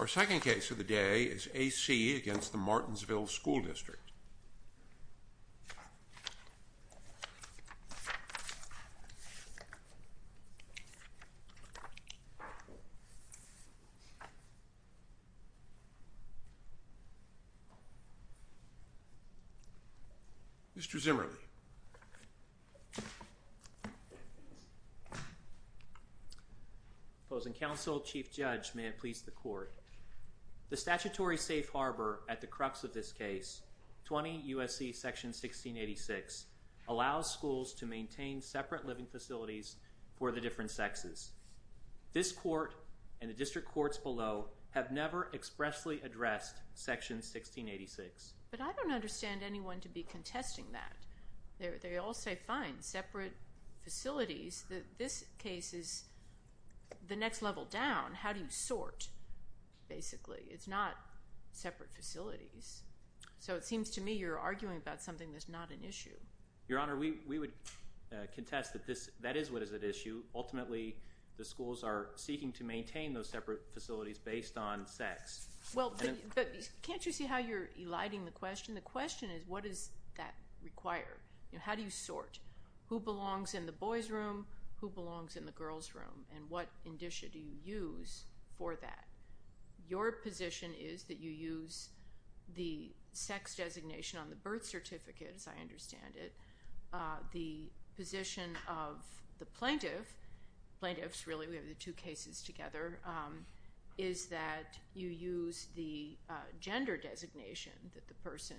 Our second case of the day is A.C. against the Martinsville School District. Mr. Zimmerle. Opposing counsel, Chief Judge, may it please the court. The statutory safe harbor at the crux of this case, 20 U.S.C. section 1686, allows schools to maintain separate living facilities for the different sexes. This court and the district courts below have never expressly addressed section 1686. But I don't understand anyone to be contesting that. They all say, fine, separate facilities. This case is the next level down. How do you sort, basically? It's not separate facilities. So it seems to me you're arguing about something that's not an issue. Your Honor, we would contest that that is what is at issue. Ultimately, the schools are seeking to maintain those separate facilities based on sex. Well, but can't you see how you're eliding the question? The question is, what does that require? How do you sort? Who belongs in the boys' room? Who belongs in the girls' room? And what indicia do you use for that? Your position is that you use the sex designation on the birth certificate, as I understand it. The position of the plaintiff, plaintiffs really, we have the two cases together, is that you use the gender designation that the person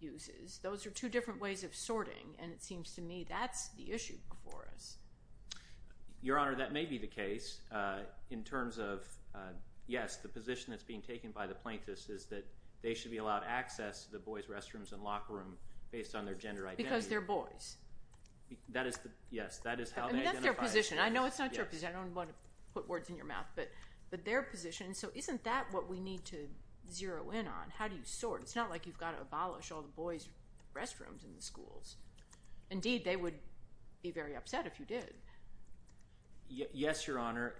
uses. Those are two different ways of sorting, and it seems to me that's the issue before us. Your Honor, that may be the case in terms of, yes, the position that's being taken by the plaintiffs is that they should be allowed access to the boys' restrooms and locker rooms based on their gender identity. Because they're boys. Yes, that is how they identify. That's their position. I know it's not your position. I don't want to put words in your mouth, but their position. So isn't that what we need to zero in on? How do you sort? It's not like you've got to abolish all the boys' restrooms in the schools. Indeed, they would be very upset if you did. Yes, Your Honor.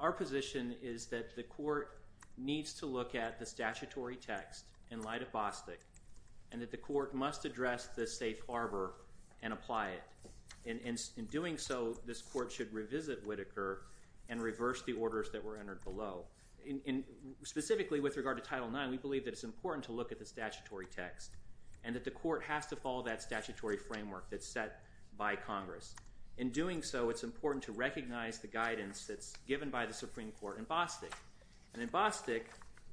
Our position is that the court needs to look at the statutory text in light of Bostick and that the court must address the safe harbor and apply it. In doing so, this court should revisit Whitaker and reverse the orders that were entered below. Specifically with regard to Title IX, we believe that it's important to look at the statutory text and that the court has to follow that statutory framework that's set by Congress. In doing so, it's important to recognize the guidance that's given by the Supreme Court in Bostick. And in Bostick,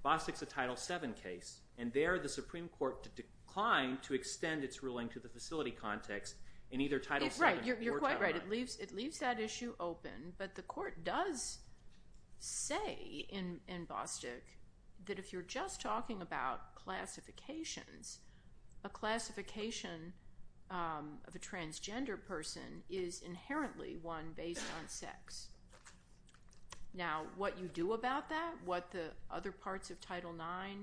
Bostick's a Title VII case. And there, the Supreme Court declined to extend its ruling to the facility context in either Title VII or Title IX. You're quite right. It leaves that issue open. But the court does say in Bostick that if you're just talking about classifications, a classification of a transgender person is inherently one based on sex. Now, what you do about that, what the other parts of Title IX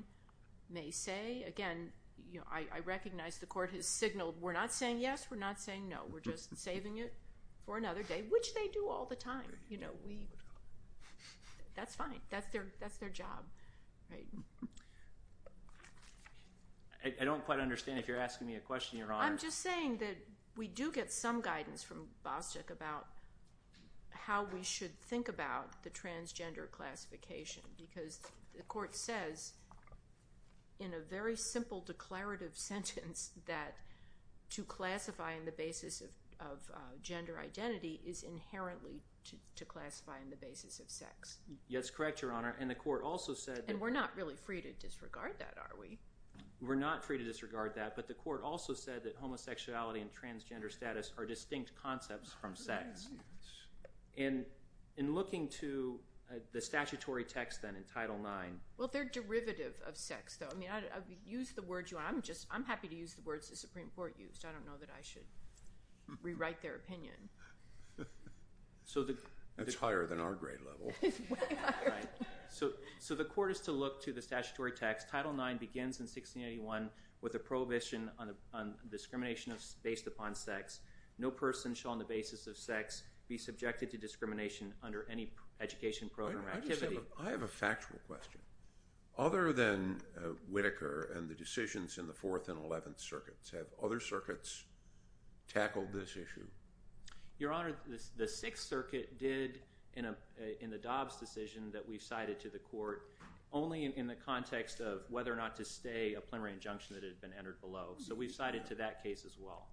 may say, again, I recognize the court has signaled we're not saying yes, we're not saying no. We're just saving it for another day, which they do all the time. That's fine. That's their job. I don't quite understand if you're asking me a question, Your Honor. I'm just saying that we do get some guidance from Bostick about how we should think about the transgender classification because the court says in a very simple declarative sentence that to classify on the basis of gender identity is inherently to classify on the basis of sex. Yes, correct, Your Honor. And the court also said that— And we're not really free to disregard that, are we? We're not free to disregard that, but the court also said that homosexuality and transgender status are distinct concepts from sex. And in looking to the statutory text then in Title IX— Well, they're derivative of sex, though. I mean, use the words you want. I'm happy to use the words the Supreme Court used. I don't know that I should rewrite their opinion. That's higher than our grade level. It's way higher. So the court is to look to the statutory text. Title IX begins in 1681 with a prohibition on discrimination based upon sex. No person shall on the basis of sex be subjected to discrimination under any education program or activity. I have a factual question. Other than Whitaker and the decisions in the Fourth and Eleventh Circuits, have other circuits tackled this issue? Your Honor, the Sixth Circuit did in the Dobbs decision that we've cited to the court only in the context of whether or not to stay a plenary injunction that had been entered below. So we've cited to that case as well.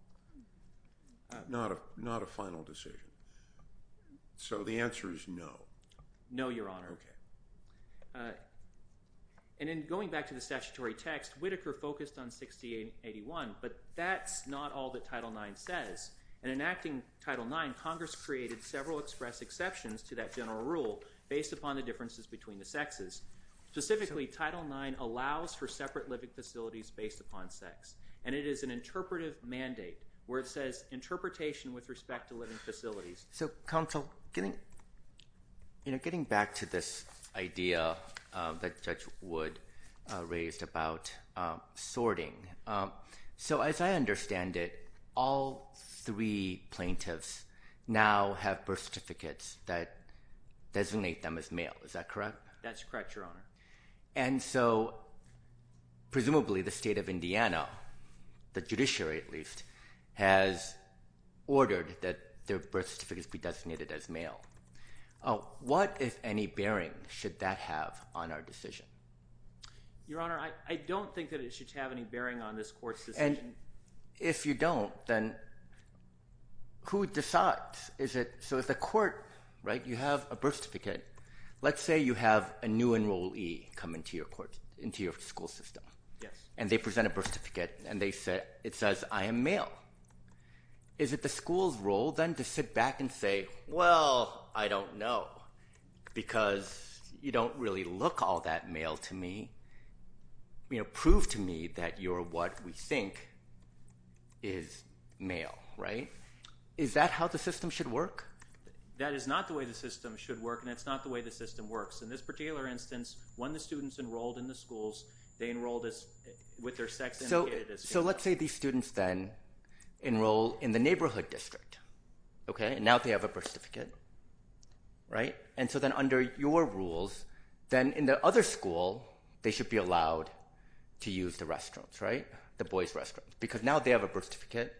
Not a final decision. So the answer is no? No, Your Honor. Okay. And in going back to the statutory text, Whitaker focused on 1681, but that's not all that Title IX says. In enacting Title IX, Congress created several express exceptions to that general rule based upon the differences between the sexes. Specifically, Title IX allows for separate living facilities based upon sex, and it is an interpretive mandate where it says interpretation with respect to living facilities. So, counsel, getting back to this idea that Judge Wood raised about sorting. So as I understand it, all three plaintiffs now have birth certificates that designate them as male. Is that correct? That's correct, Your Honor. And so presumably the state of Indiana, the judiciary at least, has ordered that their birth certificates be designated as male. What, if any, bearing should that have on our decision? Your Honor, I don't think that it should have any bearing on this court's decision. And if you don't, then who decides? So if the court, right, you have a birth certificate. Let's say you have a new enrollee come into your school system. Yes. And they present a birth certificate, and it says, I am male. Is it the school's role then to sit back and say, well, I don't know, because you don't really look all that male to me. Prove to me that you're what we think is male, right? Is that how the system should work? That is not the way the system should work, and it's not the way the system works. In this particular instance, when the students enrolled in the schools, they enrolled with their sex indicated as male. So let's say these students then enroll in the neighborhood district, okay, and now they have a birth certificate, right? And so then under your rules, then in the other school, they should be allowed to use the restaurants, right, the boys' restaurants, because now they have a birth certificate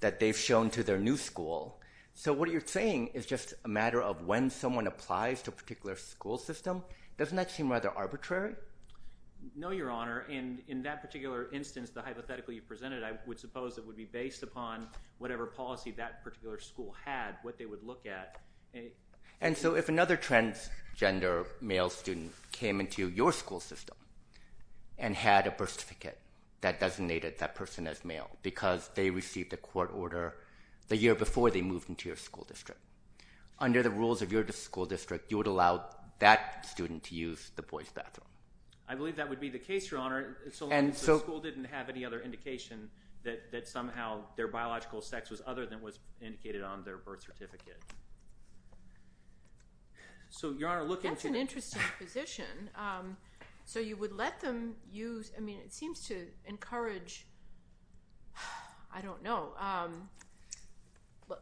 that they've shown to their new school. So what you're saying is just a matter of when someone applies to a particular school system. Doesn't that seem rather arbitrary? No, Your Honor. In that particular instance, the hypothetical you presented, I would suppose it would be based upon whatever policy that particular school had, what they would look at. And so if another transgender male student came into your school system and had a birth certificate that designated that person as male because they received a court order the year before they moved into your school district, under the rules of your school district, you would allow that student to use the boys' bathroom. I believe that would be the case, Your Honor. And so the school didn't have any other indication that somehow their biological sex was other than what's indicated on their birth certificate. So, Your Honor, looking to— That's an interesting position. So you would let them use—I mean, it seems to encourage, I don't know,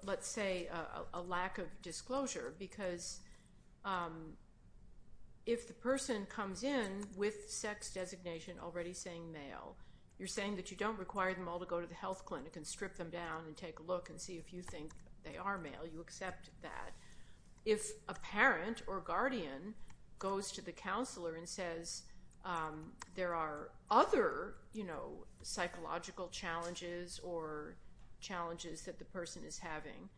let's say a lack of disclosure because if the person comes in with sex designation already saying male, you're saying that you don't require them all to go to the health clinic and strip them down and take a look and see if you think they are male. You accept that. If a parent or guardian goes to the counselor and says there are other, you know, psychological challenges or challenges that the person is having,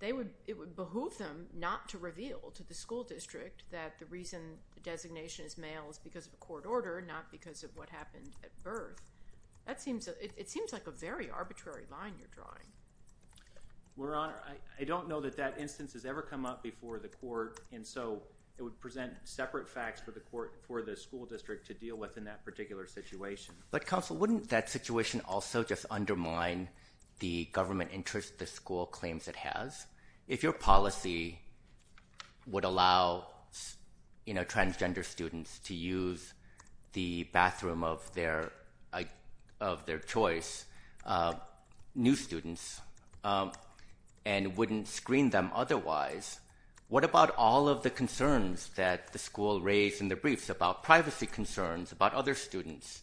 it would behoove them not to reveal to the school district that the reason the designation is male is because of a court order, not because of what happened at birth. Your Honor, I don't know that that instance has ever come up before the court, and so it would present separate facts for the school district to deal with in that particular situation. But, Counsel, wouldn't that situation also just undermine the government interest the school claims it has? If your policy would allow, you know, transgender students to use the bathroom of their choice, new students, and wouldn't screen them otherwise, what about all of the concerns that the school raised in the briefs about privacy concerns about other students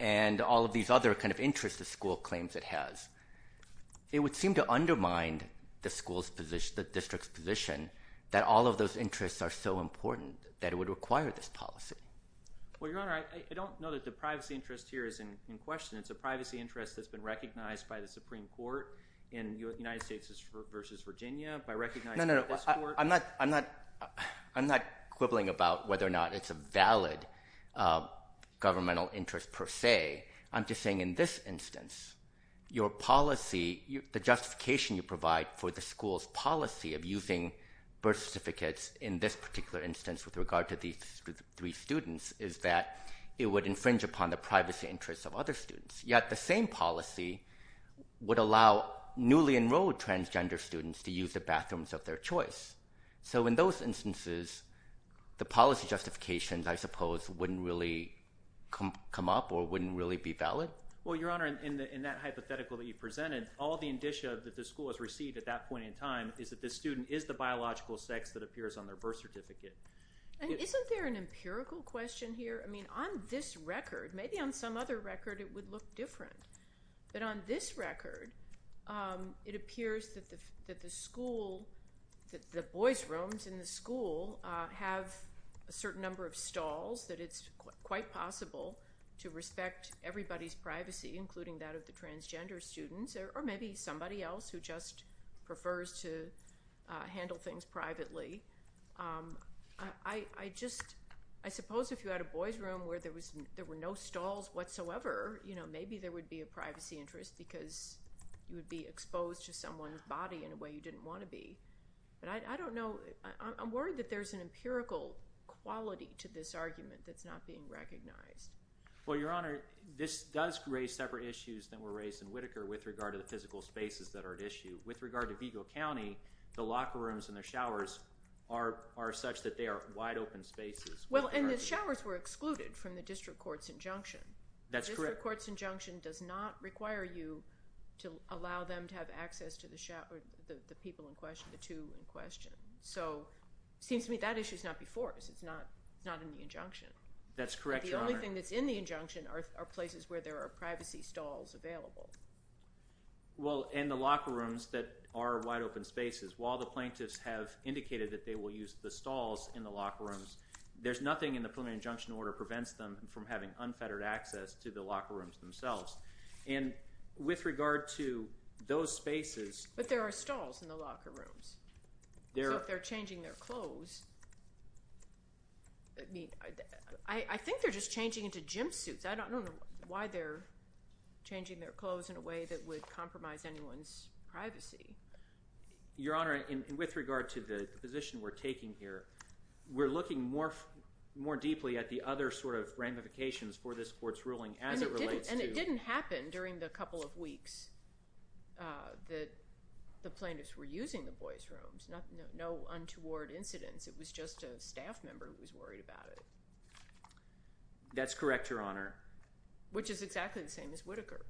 and all of these other kind of interests the school claims it has? It would seem to undermine the school's position, the district's position, that all of those interests are so important that it would require this policy. Well, Your Honor, I don't know that the privacy interest here is in question. It's a privacy interest that's been recognized by the Supreme Court in the United States versus Virginia by recognizing this court. No, no, no. I'm not quibbling about whether or not it's a valid governmental interest per se. I'm just saying in this instance, your policy, the justification you provide for the school's policy of using birth certificates in this particular instance with regard to these three students is that it would infringe upon the privacy interests of other students. Yet the same policy would allow newly enrolled transgender students to use the bathrooms of their choice. So in those instances, the policy justifications, I suppose, wouldn't really come up or wouldn't really be valid? Well, Your Honor, in that hypothetical that you presented, all the indicia that the school has received at that point in time is that this student is the biological sex that appears on their birth certificate. Isn't there an empirical question here? I mean, on this record, maybe on some other record, it would look different. But on this record, it appears that the boys' rooms in the school have a certain number of stalls, that it's quite possible to respect everybody's privacy, including that of the transgender students, or maybe somebody else who just prefers to handle things privately. I suppose if you had a boys' room where there were no stalls whatsoever, maybe there would be a privacy interest because you would be exposed to someone's body in a way you didn't want to be. But I don't know. I'm worried that there's an empirical quality to this argument that's not being recognized. Well, Your Honor, this does raise separate issues than were raised in Whitaker with regard to the physical spaces that are at issue. With regard to Vigo County, the locker rooms and the showers are such that they are wide open spaces. Well, and the showers were excluded from the district court's injunction. That's correct. The district court's injunction does not require you to allow them to have access to the people in question, the two in question. So it seems to me that issue is not before us. It's not in the injunction. That's correct, Your Honor. The only thing that's in the injunction are places where there are privacy stalls available. Well, and the locker rooms that are wide open spaces. While the plaintiffs have indicated that they will use the stalls in the locker rooms, there's nothing in the preliminary injunction order that prevents them from having unfettered access to the locker rooms themselves. And with regard to those spaces— But there are stalls in the locker rooms. So if they're changing their clothes—I mean, I think they're just changing into gym suits. I don't know why they're changing their clothes in a way that would compromise anyone's privacy. Your Honor, with regard to the position we're taking here, we're looking more deeply at the other sort of ramifications for this court's ruling as it relates to— No untoward incidents. It was just a staff member who was worried about it. That's correct, Your Honor. Which is exactly the same as Whitaker.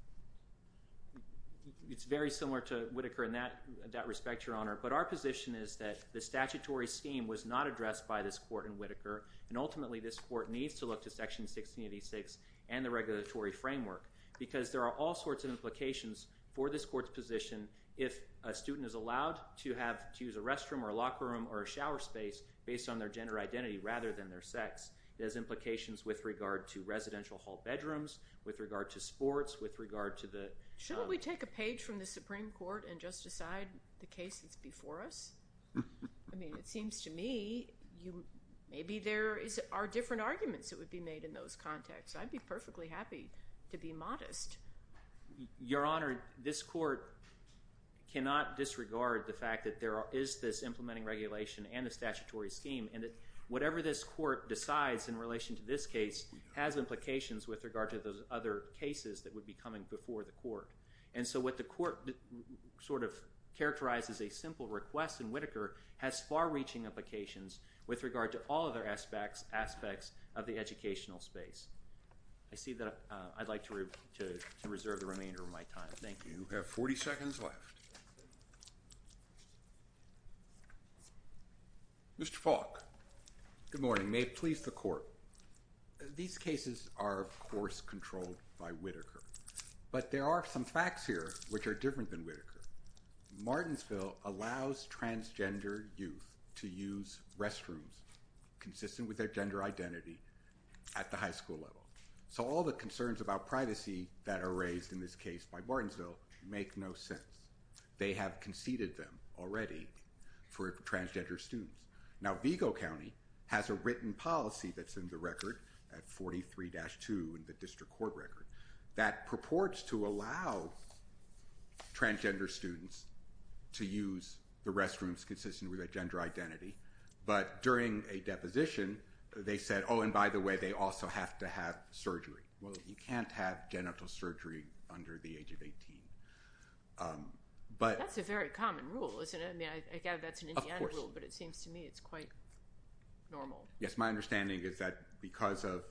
It's very similar to Whitaker in that respect, Your Honor. But our position is that the statutory scheme was not addressed by this court in Whitaker, and ultimately this court needs to look to Section 1686 and the regulatory framework because there are all sorts of implications for this court's position if a student is allowed to use a restroom or a locker room or a shower space based on their gender identity rather than their sex. It has implications with regard to residential hall bedrooms, with regard to sports, with regard to the— Shouldn't we take a page from the Supreme Court and just decide the case that's before us? I mean, it seems to me maybe there are different arguments that would be made in those contexts. I'd be perfectly happy to be modest. Your Honor, this court cannot disregard the fact that there is this implementing regulation and a statutory scheme and that whatever this court decides in relation to this case has implications with regard to those other cases that would be coming before the court. And so what the court sort of characterizes as a simple request in Whitaker has far-reaching implications with regard to all other aspects of the educational space. I see that I'd like to reserve the remainder of my time. Thank you. You have 40 seconds left. Mr. Falk. Good morning. May it please the Court. These cases are, of course, controlled by Whitaker, but there are some facts here which are different than Whitaker. Martensville allows transgender youth to use restrooms consistent with their gender identity at the high school level. So all the concerns about privacy that are raised in this case by Martensville make no sense. They have conceded them already for transgender students. Now, Vigo County has a written policy that's in the record at 43-2 in the district court record that purports to allow transgender students to use the restrooms consistent with their gender identity. But during a deposition, they said, oh, and by the way, they also have to have surgery. Well, you can't have genital surgery under the age of 18. That's a very common rule, isn't it? I mean, again, that's an Indiana rule, but it seems to me it's quite normal. Yes, my understanding is that because of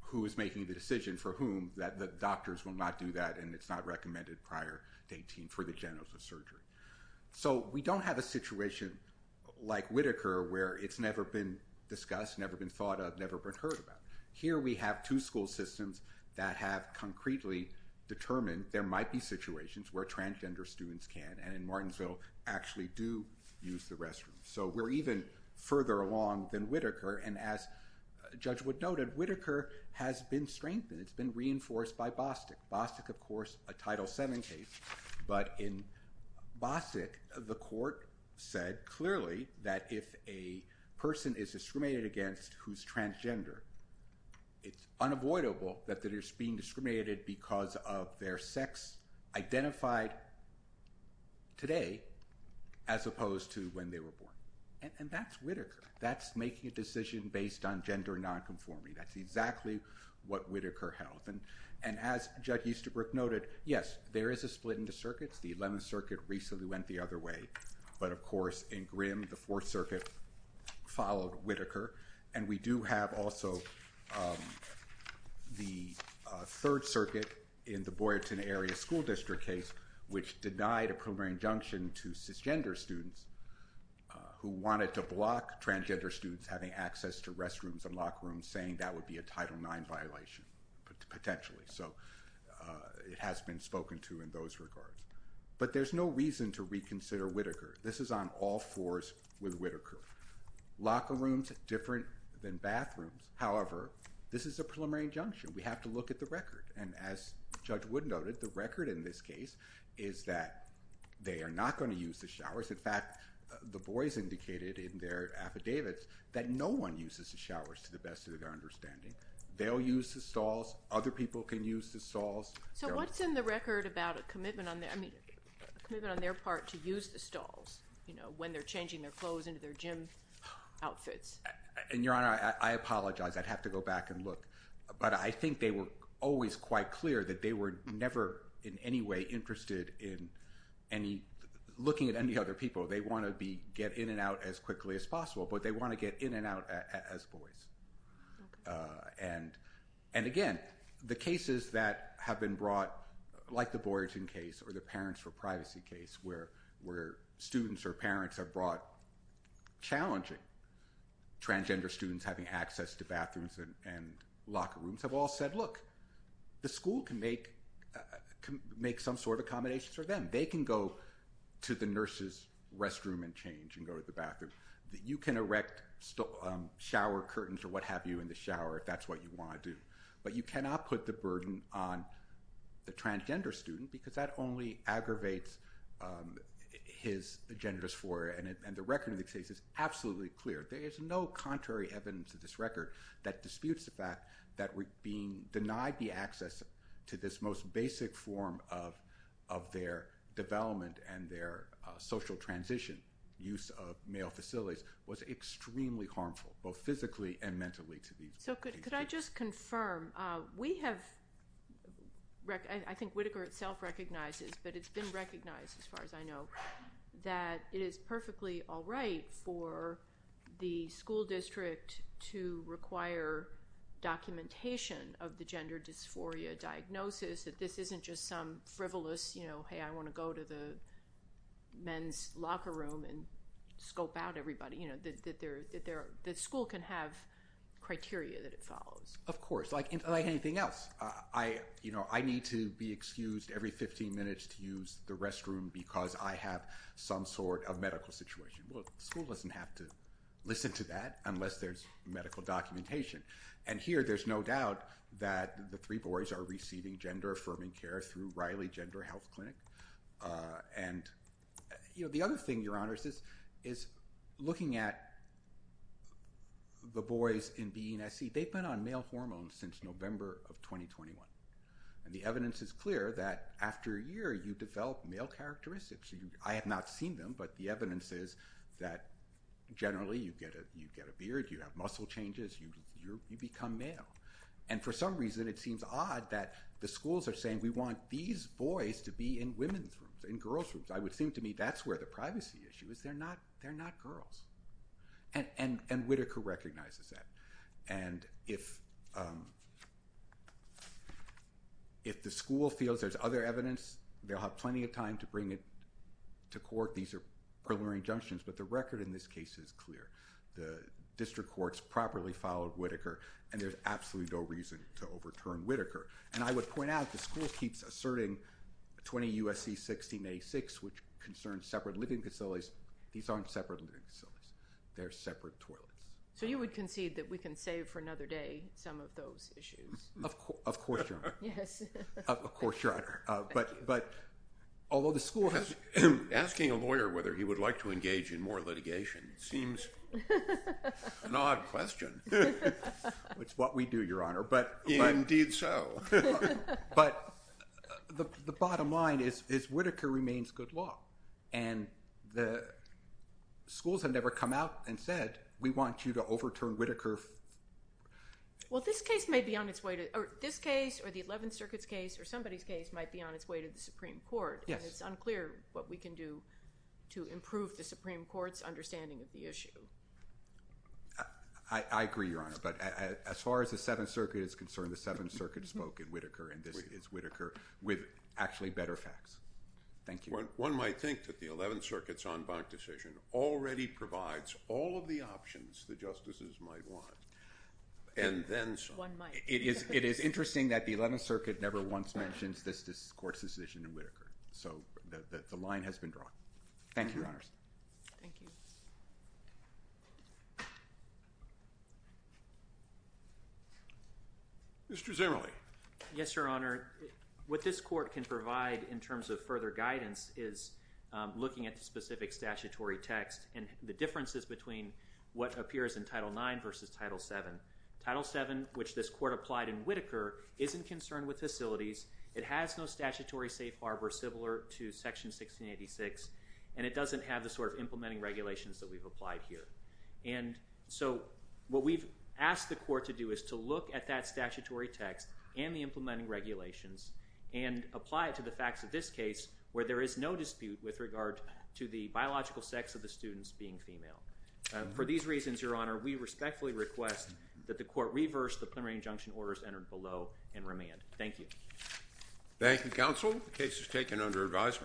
who is making the decision for whom, that the doctors will not do that and it's not recommended prior to 18 for the genitals or surgery. So we don't have a situation like Whitaker where it's never been discussed, never been thought of, never been heard about. Here we have two school systems that have concretely determined there might be situations where transgender students can, and in Martensville, actually do use the restroom. So we're even further along than Whitaker. And as Judge Wood noted, Whitaker has been strengthened. It's been reinforced by Bostic. Bostic, of course, a Title VII case. But in Bostic, the court said clearly that if a person is discriminated against who's transgender, it's unavoidable that they're being discriminated because of their sex identified today as opposed to when they were born. And that's Whitaker. That's making a decision based on gender nonconforming. That's exactly what Whitaker held. And as Judge Easterbrook noted, yes, there is a split in the circuits. The Eleventh Circuit recently went the other way. But of course, in Grimm, the Fourth Circuit followed Whitaker. And we do have also the Third Circuit in the Boyerton Area School District case, which denied a preliminary injunction to cisgender students who wanted to block transgender students having access to restrooms and locker rooms, saying that would be a Title IX violation, potentially. So it has been spoken to in those regards. But there's no reason to reconsider Whitaker. This is on all fours with Whitaker. Locker rooms, different than bathrooms. However, this is a preliminary injunction. We have to look at the record. And as Judge Wood noted, the record in this case is that they are not going to use the showers. In fact, the boys indicated in their affidavits that no one uses the showers to the best of their understanding. They'll use the stalls. Other people can use the stalls. So what's in the record about a commitment on their part to use the stalls when they're changing their clothes into their gym outfits? Your Honor, I apologize. I'd have to go back and look. But I think they were always quite clear that they were never in any way interested in looking at any other people. They want to get in and out as quickly as possible, but they want to get in and out as boys. And again, the cases that have been brought, like the Boyerton case or the parents for privacy case, where students or parents have brought challenging transgender students having access to bathrooms and locker rooms, have all said, look, the school can make some sort of accommodations for them. They can go to the nurse's restroom and change and go to the bathroom. You can erect shower curtains or what have you in the shower if that's what you want to do. But you cannot put the burden on the transgender student because that only aggravates his gender dysphoria. And the record of the case is absolutely clear. There is no contrary evidence to this record that disputes the fact that being denied the access to this most basic form of their development and their social transition use of male facilities was extremely harmful, both physically and mentally. So could I just confirm, we have, I think Whitaker itself recognizes, but it's been recognized as far as I know, that it is perfectly all right for the school district to require documentation of the gender dysphoria diagnosis, that this isn't just some frivolous, hey, I want to go to the men's locker room and scope out everybody, that the school can have criteria that it follows. Of course, like anything else. I need to be excused every 15 minutes to use the restroom because I have some sort of medical situation. Well, the school doesn't have to listen to that unless there's medical documentation. And here there's no doubt that the three boys are receiving gender-affirming care through Riley Gender Health Clinic. And, you know, the other thing, Your Honors, is looking at the boys in B, E, and S, C, they've been on male hormones since November of 2021. And the evidence is clear that after a year you develop male characteristics. I have not seen them, but the evidence is that generally you get a beard, you have muscle changes, you become male. And for some reason it seems odd that the schools are saying we want these boys to be in women's rooms, in girls' rooms. It would seem to me that's where the privacy issue is. They're not girls. And Whitaker recognizes that. And if the school feels there's other evidence, they'll have plenty of time to bring it to court. These are preliminary injunctions, but the record in this case is clear. The district courts properly followed Whitaker, and there's absolutely no reason to overturn Whitaker. And I would point out the school keeps asserting 20 U.S.C. 1686, which concerns separate living facilities. These aren't separate living facilities. They're separate toilets. So you would concede that we can save for another day some of those issues? Of course, Your Honor. Yes. Of course, Your Honor. But although the school has- Asking a lawyer whether he would like to engage in more litigation seems an odd question. It's what we do, Your Honor, but- Indeed so. But the bottom line is Whitaker remains good law. And the schools have never come out and said, we want you to overturn Whitaker. Well, this case may be on its way to- Or this case or the 11th Circuit's case or somebody's case might be on its way to the Supreme Court. Yes. And it's unclear what we can do to improve the Supreme Court's understanding of the issue. I agree, Your Honor. But as far as the 7th Circuit is concerned, the 7th Circuit spoke in Whitaker and this is Whitaker with actually better facts. Thank you. One might think that the 11th Circuit's en banc decision already provides all of the options the justices might want. And then some. One might. It is interesting that the 11th Circuit never once mentions this court's decision in Whitaker. So the line has been drawn. Thank you, Your Honors. Thank you. Mr. Zimmerle. Yes, Your Honor. What this court can provide in terms of further guidance is looking at the specific statutory text and the differences between what appears in Title IX versus Title VII. Title VII, which this court applied in Whitaker, isn't concerned with facilities. It has no statutory safe harbor similar to Section 1686. And it doesn't have the sort of implementing regulations that we've applied here. And so what we've asked the court to do is to look at that statutory text and the implementing regulations and apply it to the facts of this case where there is no dispute with regard to the biological sex of the students being female. For these reasons, Your Honor, we respectfully request that the court reverse the preliminary injunction orders entered below and remand. Thank you. Thank you, counsel. The case is taken under advisement.